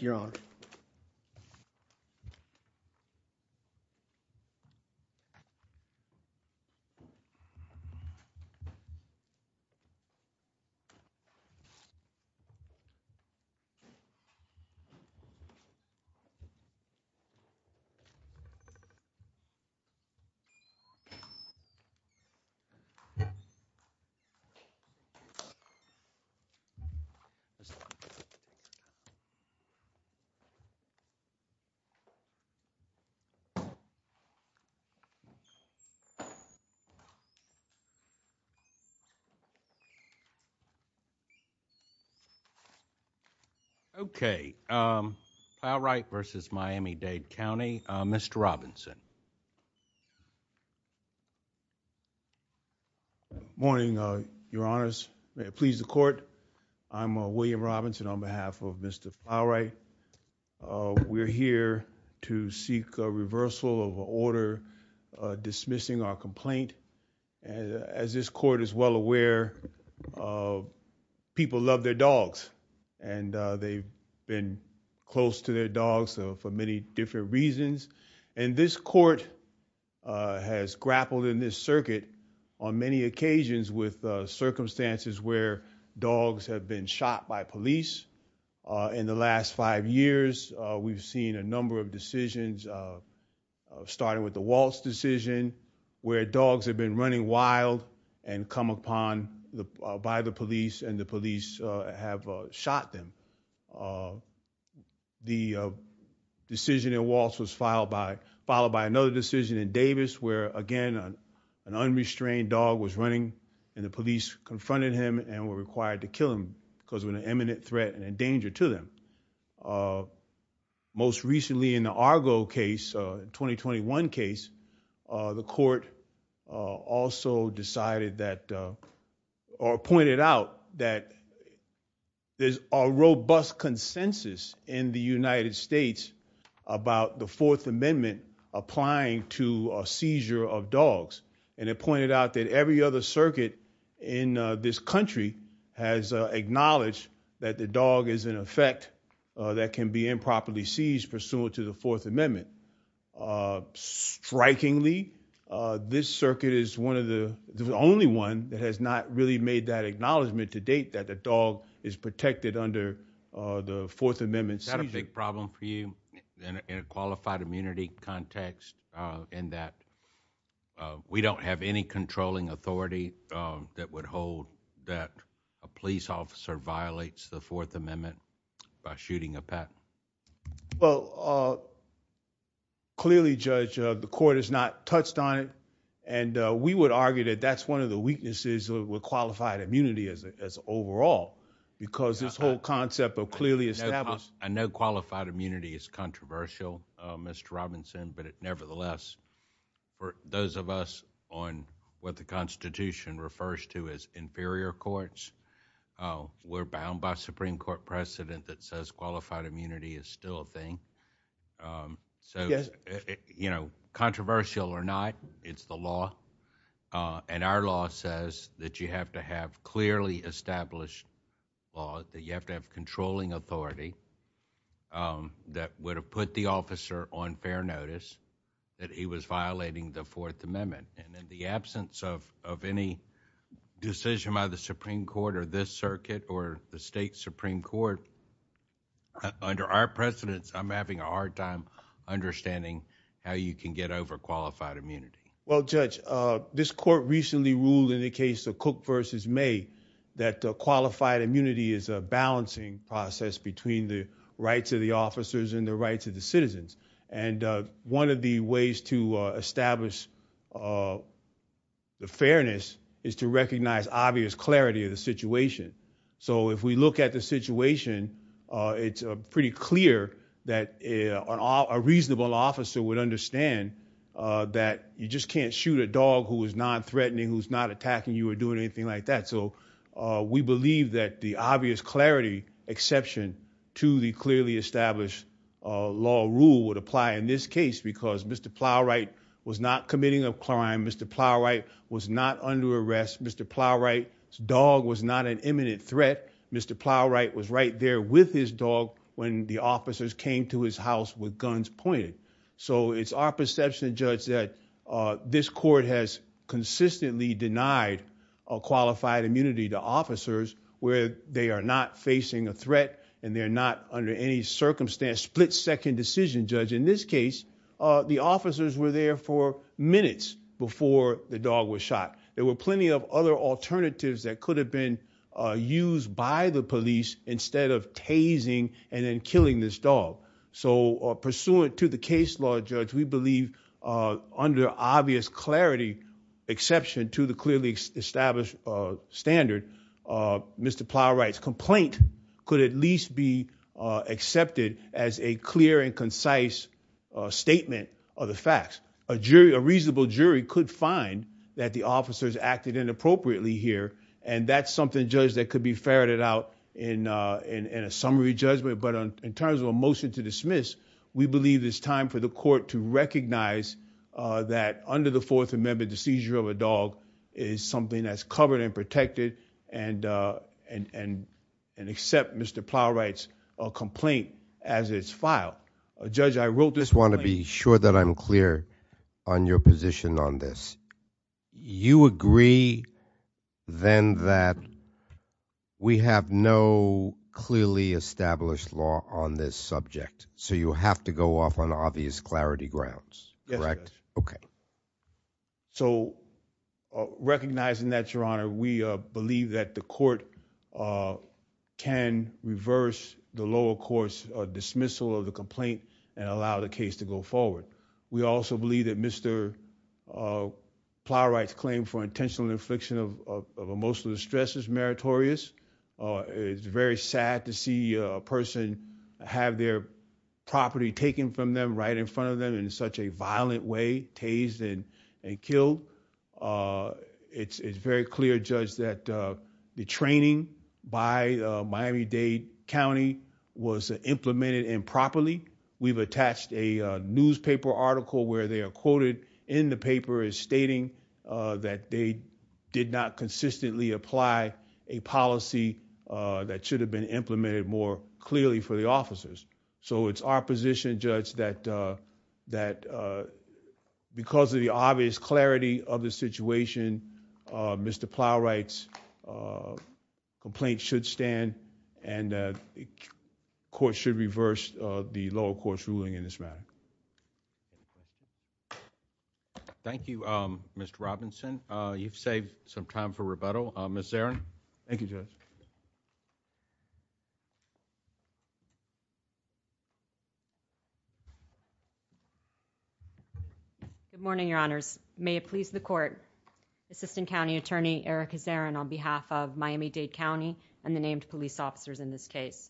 Your Honor. Okay, Plowright v. Miami Dade County, Mr. Robinson. Morning, Your Honors. Please the court. I'm William Robinson on behalf of Mr. Plowright. We're here to seek a reversal of an order dismissing our complaint. As this court is well aware, people love their dogs and they've been close to their dogs for many different reasons. And this court has grappled in this circuit on many occasions with circumstances where dogs have been shot by police. In the last five years, we've seen a number of decisions starting with the Waltz decision where dogs have been running wild and come upon by the police and the police have shot them. The decision in Waltz was followed by another decision in Davis where again, an unrestrained dog was running and the police confronted him and were required to kill him because of an imminent threat and a danger to them. Most recently in the Argo case, the 2021 case, the court also decided that or pointed out that there's a robust consensus in the United States about the Fourth Amendment applying to a seizure of dogs. And it pointed out that every other circuit in this country has acknowledged that the dog is in effect that can be improperly seized pursuant to the Fourth Amendment. Strikingly, this circuit is one of the only one that has not really made that acknowledgement to date that the dog is protected under the Fourth Amendment seizure. Is that a big problem for you in a qualified immunity context in that we don't have any controlling authority that would hold that a police officer violates the Fourth Amendment by shooting a pet? Well, clearly Judge, the court has not touched on it and we would argue that that's one of the weaknesses with qualified immunity as overall, because this whole concept of clearly established- I know qualified immunity is controversial, Mr. Robinson, but nevertheless, for those of us on what the Constitution refers to as inferior courts, we're bound by Supreme Court precedent that says qualified immunity is still a thing. So controversial or not, it's the law. And our law says that you have to have clearly established laws, that you have to have controlling authority that would have put the officer on fair notice that he was violating the Fourth Amendment. And in the absence of any decision by the Supreme Court or this circuit or the state Supreme Court, under our precedents, I'm having a hard time understanding how you can get over qualified immunity. Well, Judge, this court recently ruled in the case of Cook v. May that qualified immunity is a balancing process between the rights of the officers and the rights of the citizens. And one of the ways to establish the fairness is to recognize obvious clarity of the situation. So if we look at the situation, it's pretty clear that a reasonable officer would understand that you just can't shoot a dog who is non-threatening, who's not attacking you or doing anything like that. So we believe that the obvious clarity exception to the clearly established law rule would apply in this case because Mr. Plowright was not committing a crime. Mr. Plowright was not under arrest. Mr. Plowright's dog was not an imminent threat. Mr. Plowright was right there with his dog when the officers came to his house with guns pointed. So it's our perception, Judge, that this court has consistently denied qualified immunity to officers where they are not facing a threat and they're not under any circumstance, split-second decision, Judge. In this case, the officers were there for minutes before the dog was shot. There were plenty of other alternatives that could have been used by the police instead of tasing and then killing this dog. So pursuant to the case law, Judge, we believe under obvious clarity exception to the clearly established standard, Mr. Plowright's complaint could at least be accepted as a clear and concise statement of the facts. A reasonable jury could find that the officers acted inappropriately here, and that's something, Judge, that could be ferreted out in a summary judgment. But in terms of a motion to dismiss, we believe it's time for the court to recognize that under the Fourth Amendment, the seizure of a dog is something that's covered and protected and accept Mr. Plowright's complaint as it's filed. Judge, I wrote this complaint— I just want to be sure that I'm clear on your position on this. You agree, then, that we have no clearly established law on this subject, so you have to go off on obvious clarity grounds, correct? Yes, Judge. Okay. So recognizing that, Your Honor, we believe that the court can reverse the lower court's dismissal of the complaint and allow the case to go forward. We also believe that Mr. Plowright's claim for intentional infliction of emotional distress is meritorious. It's very sad to see a person have their property taken from them right in front of them in such a violent way, tased and killed. It's very clear, Judge, that the training by Miami-Dade County was implemented improperly. We've attached a newspaper article where they are quoted in the paper as stating that they did not consistently apply a policy that should have been implemented more clearly for the officers. So it's our position, Judge, that because of the obvious clarity of the situation, Mr. Plowright, the court should reverse the lower court's ruling in this matter. Thank you, Mr. Robinson. You've saved some time for rebuttal. Ms. Zarin. Thank you, Judge. Good morning, Your Honors. May it please the court, Assistant County Attorney Erica Zarin on behalf of Miami-Dade County and the named police officers in this case.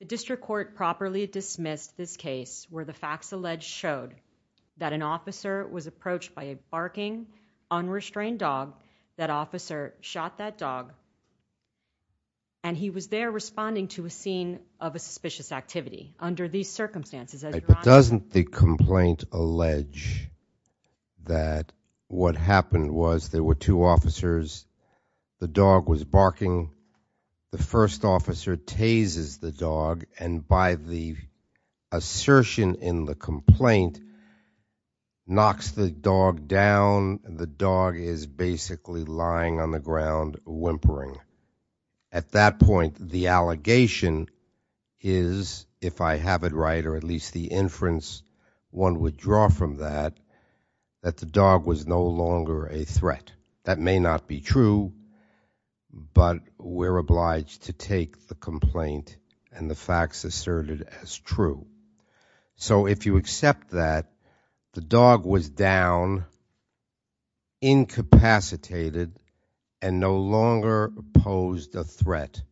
The district court properly dismissed this case where the facts alleged showed that an officer was approached by a barking, unrestrained dog. That officer shot that dog, and he was there responding to a scene of a suspicious activity. Under these circumstances, as Your Honor- But doesn't the complaint allege that what happened was there were two officers, the first officer tazes the dog, and by the assertion in the complaint, knocks the dog down. The dog is basically lying on the ground whimpering. At that point, the allegation is, if I have it right, or at least the inference one would draw from that, that the dog was no longer a threat. That may not be true, but we're obliged to take the complaint and the facts asserted as true. So if you accept that the dog was down, incapacitated, and no longer posed a threat,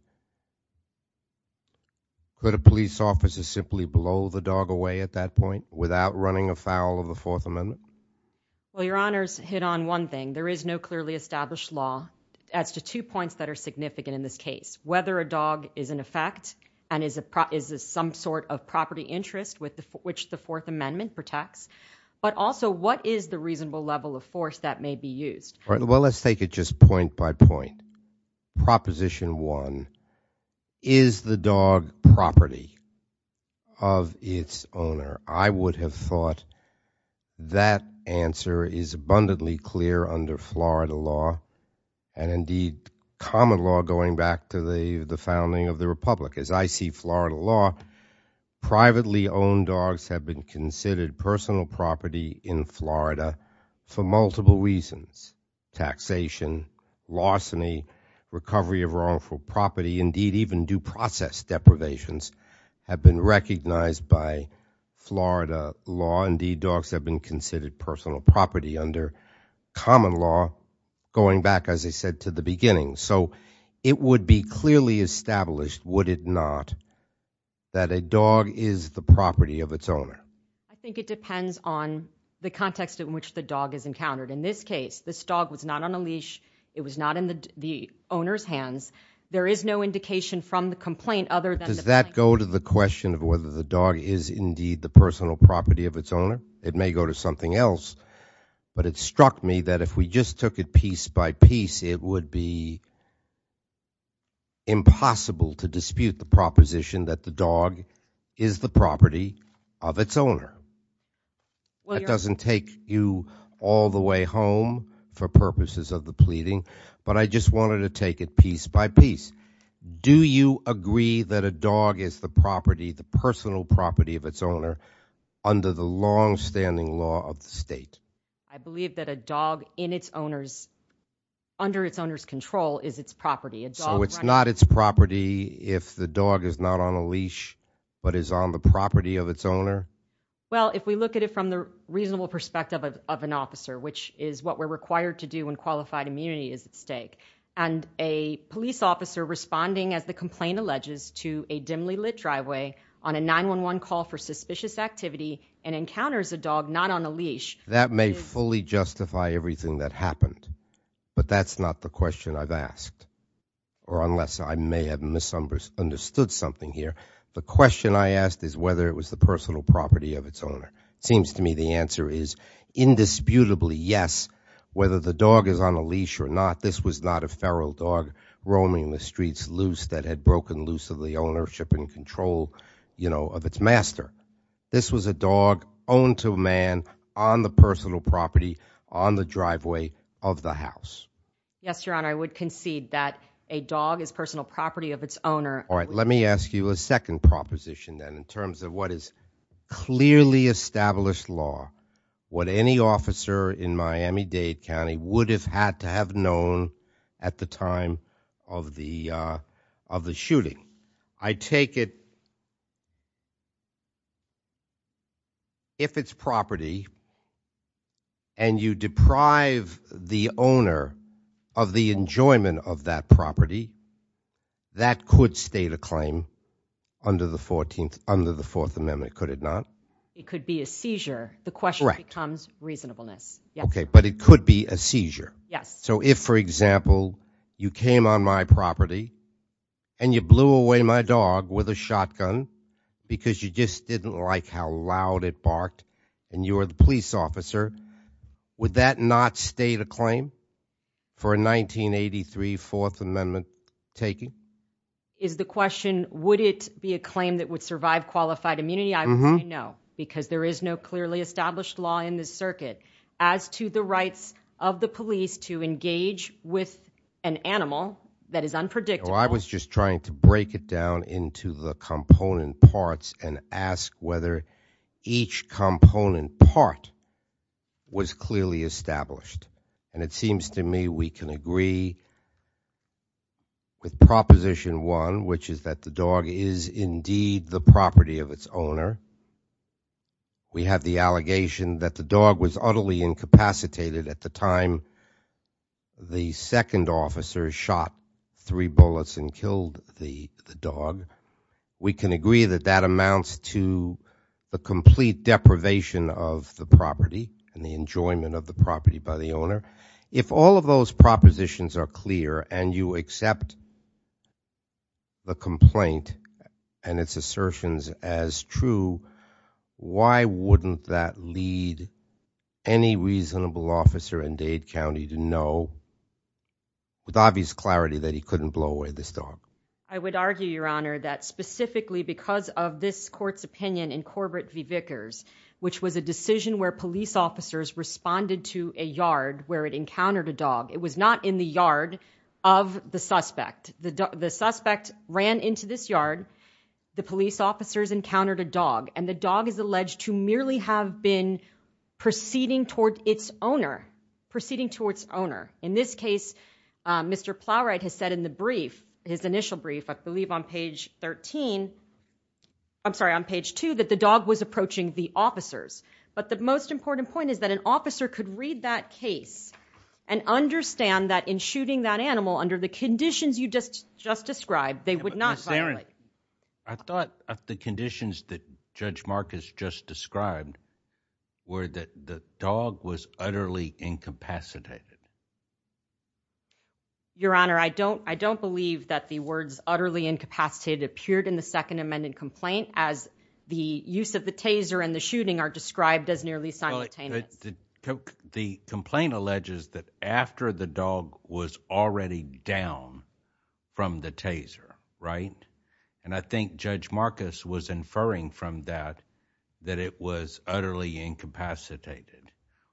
could a police officer simply blow the dog away at that point without running afoul of the Fourth Amendment? Well, Your Honors, hit on one thing. There is no clearly established law as to two points that are significant in this case. Whether a dog is in effect and is of some sort of property interest which the Fourth Amendment protects, but also what is the reasonable level of force that may be used? Well, let's take it just point by point. Proposition one, is the dog property of its owner? I would have thought that answer is abundantly clear under Florida law, and indeed common law going back to the founding of the Republic. As I see Florida law, privately owned dogs have been considered personal property in Florida for multiple reasons. Taxation, larceny, recovery of wrongful property, indeed even due process deprivations have been recognized by Florida law, indeed dogs have been considered personal property under common law going back, as I said, to the beginning. So it would be clearly established, would it not, that a dog is the property of its owner? I think it depends on the context in which the dog is encountered. In this case, this dog was not on a leash. It was not in the owner's hands. There is no indication from the complaint other than- It doesn't go to the question of whether the dog is indeed the personal property of its owner. It may go to something else, but it struck me that if we just took it piece by piece, it would be impossible to dispute the proposition that the dog is the property of its owner. That doesn't take you all the way home for purposes of the pleading, but I just wanted to take it piece by piece. Do you agree that a dog is the property, the personal property of its owner under the longstanding law of the state? I believe that a dog in its owner's, under its owner's control is its property. So it's not its property if the dog is not on a leash, but is on the property of its owner? Well, if we look at it from the reasonable perspective of an officer, which is what we're as the complaint alleges to a dimly lit driveway on a 911 call for suspicious activity and encounters a dog not on a leash. That may fully justify everything that happened, but that's not the question I've asked, or unless I may have misunderstood something here. The question I asked is whether it was the personal property of its owner. It seems to me the answer is indisputably yes, whether the dog is on a leash or not. This was not a feral dog roaming the streets loose that had broken loose of the ownership and control, you know, of its master. This was a dog owned to a man on the personal property on the driveway of the house. Yes, Your Honor, I would concede that a dog is personal property of its owner. All right, let me ask you a second proposition then in terms of what is clearly established in this law, what any officer in Miami-Dade County would have had to have known at the time of the shooting. I take it if it's property and you deprive the owner of the enjoyment of that property, that could state a claim under the Fourth Amendment, could it not? It could be a seizure. The question becomes reasonableness. Okay, but it could be a seizure. Yes. So if, for example, you came on my property and you blew away my dog with a shotgun, because you just didn't like how loud it barked and you were the police officer, would that not state a claim for a 1983 Fourth Amendment taking? Is the question, would it be a claim that would survive qualified immunity? I would say no, because there is no clearly established law in this circuit as to the rights of the police to engage with an animal that is unpredictable. I was just trying to break it down into the component parts and ask whether each component part was clearly established. And it seems to me we can agree with proposition one, which is that the dog is indeed the property of its owner. We have the allegation that the dog was utterly incapacitated at the time the second officer shot three bullets and killed the dog. We can agree that that amounts to the complete deprivation of the property and the enjoyment of the property by the owner. If all of those propositions are clear and you accept the complaint and its assertions as true, why wouldn't that lead any reasonable officer in Dade County to know with obvious clarity that he couldn't blow away this dog? I would argue, Your Honor, that specifically because of this court's opinion in Corbett v. Vickers, which was a decision where police officers responded to a yard where it encountered a dog. It was not in the yard of the suspect. The suspect ran into this yard. The police officers encountered a dog, and the dog is alleged to merely have been proceeding toward its owner, proceeding towards owner. In this case, Mr. Plowright has said in the brief, his initial brief, I believe on page 13, I'm sorry, on page 2, that the dog was approaching the officers. But the most important point is that an officer could read that case and understand that in shooting that animal under the conditions you just described, they would not violate. I thought the conditions that Judge Marcus just described were that the dog was utterly incapacitated. Your Honor, I don't believe that the words utterly incapacitated appeared in the Second Amendment complaint as the use of the taser and the shooting are described as nearly simultaneous. The complaint alleges that after the dog was already down from the taser, right? And I think Judge Marcus was inferring from that that it was utterly incapacitated.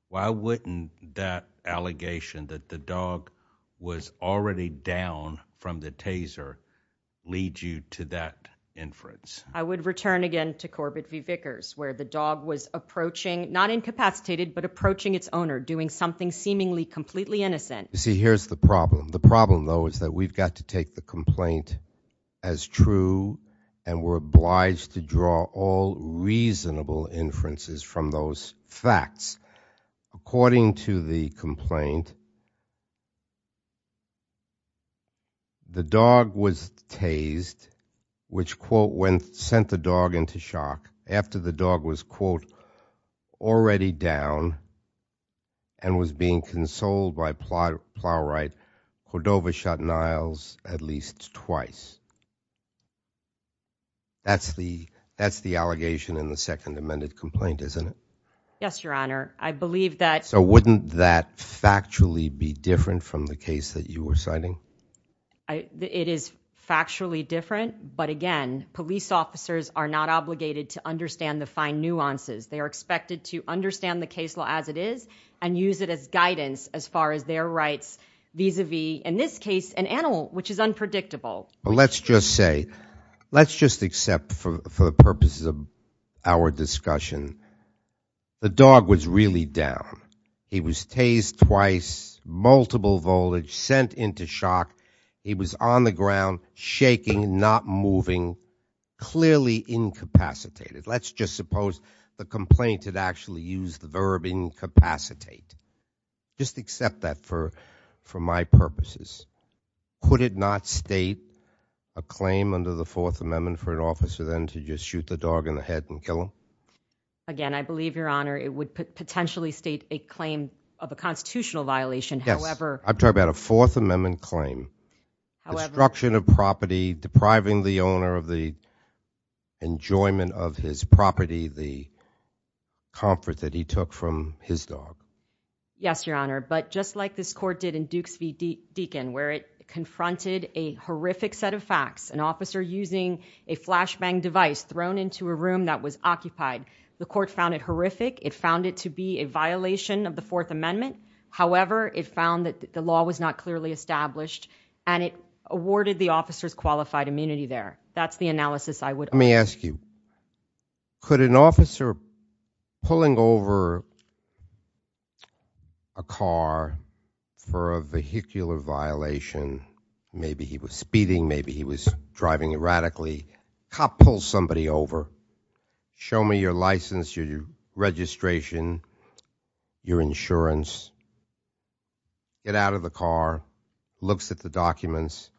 Why wouldn't that allegation that the dog was already down from the taser lead you to that inference? I would return again to Corbett v. Vickers, where the dog was approaching, not incapacitated, but approaching its owner, doing something seemingly completely innocent. You see, here's the problem. The problem, though, is that we've got to take the complaint as true, and we're obliged to draw all reasonable inferences from those facts. According to the complaint, the dog was tased, which, quote, sent the dog into shock. After the dog was, quote, already down and was being consoled by Plowright, Hodova shot Niles at least twice. That's the allegation in the second amended complaint, isn't it? Yes, Your Honor. I believe that. So wouldn't that factually be different from the case that you were citing? It is factually different, but again, police officers are not obligated to understand the fine nuances. They are expected to understand the case law as it is and use it as guidance as far as their rights vis-a-vis, in this case, an animal, which is unpredictable. Well, let's just say, let's just accept for the purposes of our discussion, the dog was really down. He was tased twice, multiple voltage, sent into shock. He was on the ground, shaking, not moving, clearly incapacitated. Let's just suppose the complaint had actually used the verb incapacitate. Just accept that for my purposes. Could it not state a claim under the fourth amendment for an officer then to just shoot the dog in the head and kill him? Again, I believe, Your Honor, it would potentially state a claim of a constitutional violation. Yes, I'm talking about a fourth amendment claim. Destruction of property, depriving the owner of the enjoyment of his property, the comfort that he took from his dog. Yes, Your Honor. But just like this court did in Dukes v. Deacon, where it confronted a horrific set of facts, an officer using a flashbang device thrown into a room that was occupied. The court found it horrific. It found it to be a violation of the fourth amendment. However, it found that the law was not clearly established and it awarded the officers qualified immunity there. That's the analysis I would- Could an officer pulling over a car for a vehicular violation, maybe he was speeding, maybe he was driving erratically, cop pulls somebody over, show me your license, your registration, your insurance, get out of the car, looks at the documents,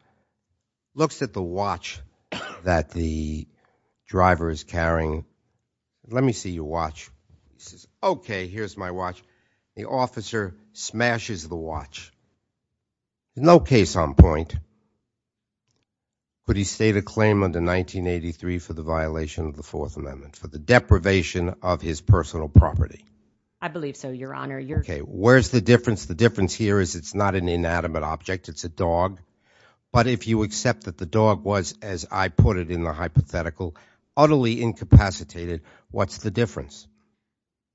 looks at the watch that the driver is carrying. Let me see your watch. He says, okay, here's my watch. The officer smashes the watch. No case on point, but he stated a claim under 1983 for the violation of the fourth amendment for the deprivation of his personal property. I believe so, Your Honor. You're- Okay, where's the difference? The difference here is it's not an inanimate object, it's a dog. But if you accept that the dog was, as I put it in the hypothetical, utterly incapacitated, what's the difference?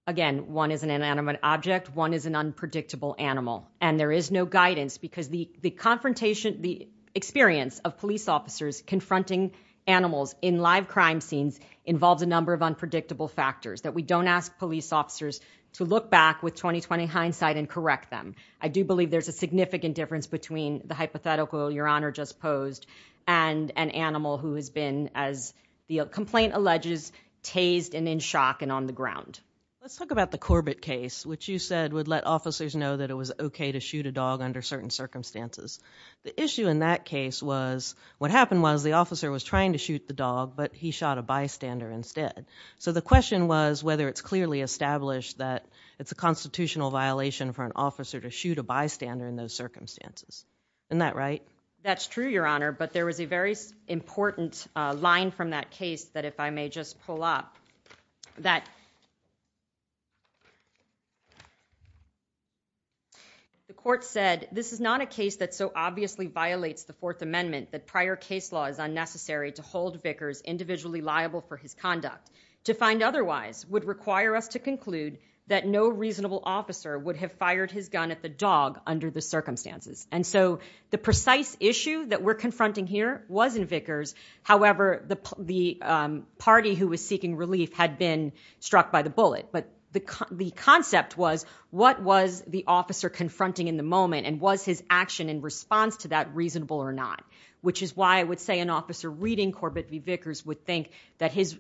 Again, one is an inanimate object, one is an unpredictable animal, and there is no guidance because the confrontation, the experience of police officers confronting animals in live crime scenes involves a number of unpredictable factors that we don't ask police officers to look back with 20-20 hindsight and correct them. I do believe there's a significant difference between the hypothetical Your Honor just posed and an animal who has been, as the complaint alleges, tased and in shock and on the ground. Let's talk about the Corbett case, which you said would let officers know that it was okay to shoot a dog under certain circumstances. The issue in that case was, what happened was the officer was trying to shoot the dog, but he shot a bystander instead. So the question was whether it's clearly established that it's a constitutional violation for an officer to shoot a bystander in those circumstances. Isn't that right? That's true, Your Honor, but there was a very important line from that case that, if I may just pull up, that the court said, this is not a case that so obviously violates the Fourth Amendment that prior case law is unnecessary to hold Vickers individually liable for his conduct. To find otherwise would require us to conclude that no reasonable officer would have fired his gun at the dog under the circumstances. And so the precise issue that we're confronting here was in Vickers, however, the party who was seeking relief had been struck by the bullet. But the concept was, what was the officer confronting in the moment and was his action in response to that reasonable or not, which is why I would say an officer reading Corbett v. Vickers would think that his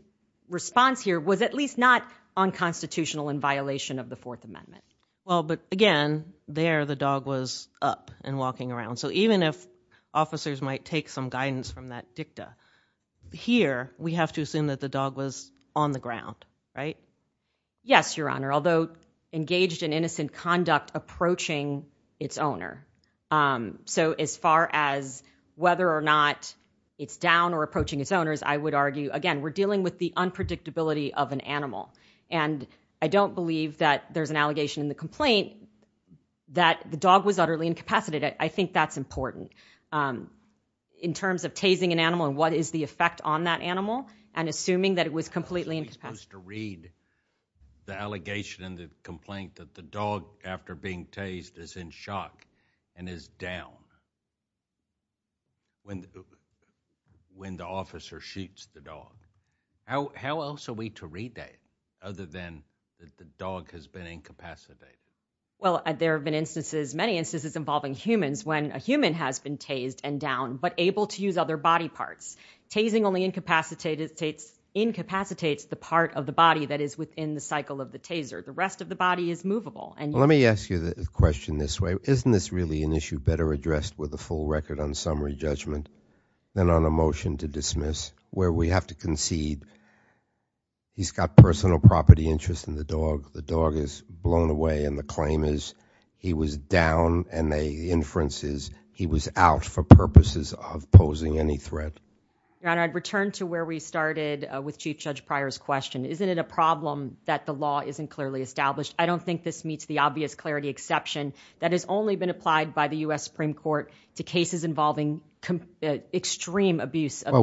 response here was at least not unconstitutional in violation of the Fourth Amendment. Well, but again, there the dog was up and walking around. So even if officers might take some guidance from that dicta here, we have to assume that the dog was on the ground, right? Yes, Your Honor, although engaged in innocent conduct approaching its owner. So as far as whether or not it's down or approaching its owners, I would argue, again, we're dealing with the unpredictability of an animal. And I don't believe that there's an allegation in the complaint that the dog was utterly incapacitated. I think that's important in terms of tasing an animal and what is the effect on that animal and assuming that it was completely incapacitated. So you're supposed to read the allegation in the complaint that the dog, after being tased, is in shock and is down when the officer shoots the dog. How else are we to read that other than that the dog has been incapacitated? Well, there have been instances, many instances involving humans when a human has been tased and down, but able to use other body parts. Tasing only incapacitates the part of the body that is within the cycle of the taser. The rest of the body is movable. Let me ask you the question this way. Isn't this really an issue better addressed with a full record on summary judgment than on a motion to dismiss where we have to concede he's got personal property interest in the dog, the dog is blown away, and the claim is he was down and the inference is he was out for purposes of posing any threat? Your Honor, I'd return to where we started with Chief Judge Pryor's question. Isn't it a problem that the law isn't clearly established? I don't think this meets the obvious clarity exception that has only been applied by the Well,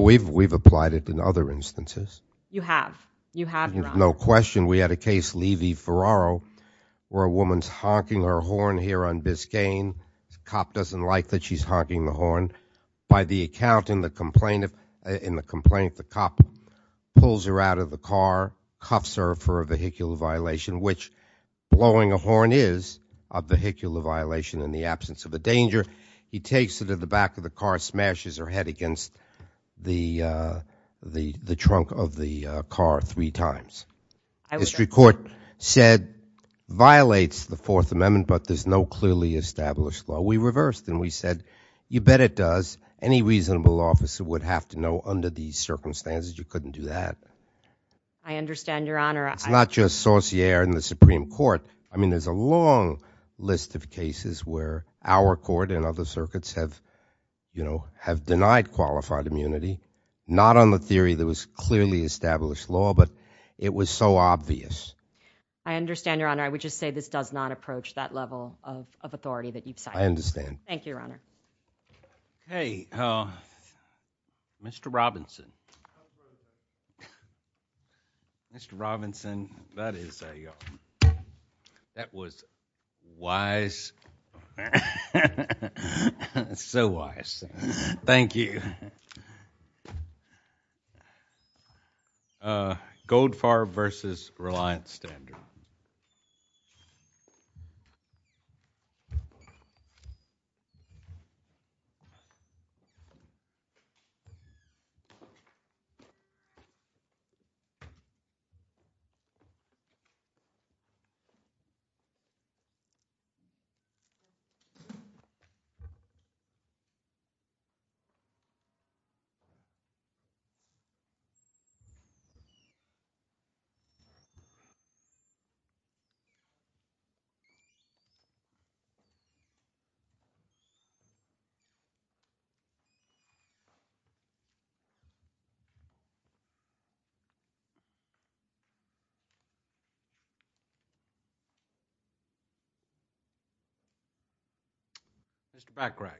we've applied it in other instances. You have. You have, Your Honor. No question. We had a case, Levy-Ferraro, where a woman's honking her horn here on Biscayne. Cop doesn't like that she's honking the horn. By the account in the complaint, the cop pulls her out of the car, cuffs her for a vehicular violation, which blowing a horn is a vehicular violation in the absence of a danger. He takes her to the back of the car, smashes her head against the trunk of the car three times. The district court said, violates the Fourth Amendment, but there's no clearly established law. We reversed and we said, you bet it does. Any reasonable officer would have to know under these circumstances you couldn't do that. I understand, Your Honor. It's not just Saussure and the Supreme Court. I mean, there's a long list of cases where our court and other circuits have, you know, have denied qualified immunity. Not on the theory there was clearly established law, but it was so obvious. I understand, Your Honor. I would just say this does not approach that level of authority that you've cited. I understand. Thank you, Your Honor. Okay. Mr. Robinson. Mr. Robinson, that is a, that was wise, so wise. Thank you. Okay. Uh, Goldfarb versus Reliant Standard. Mr. Backprack.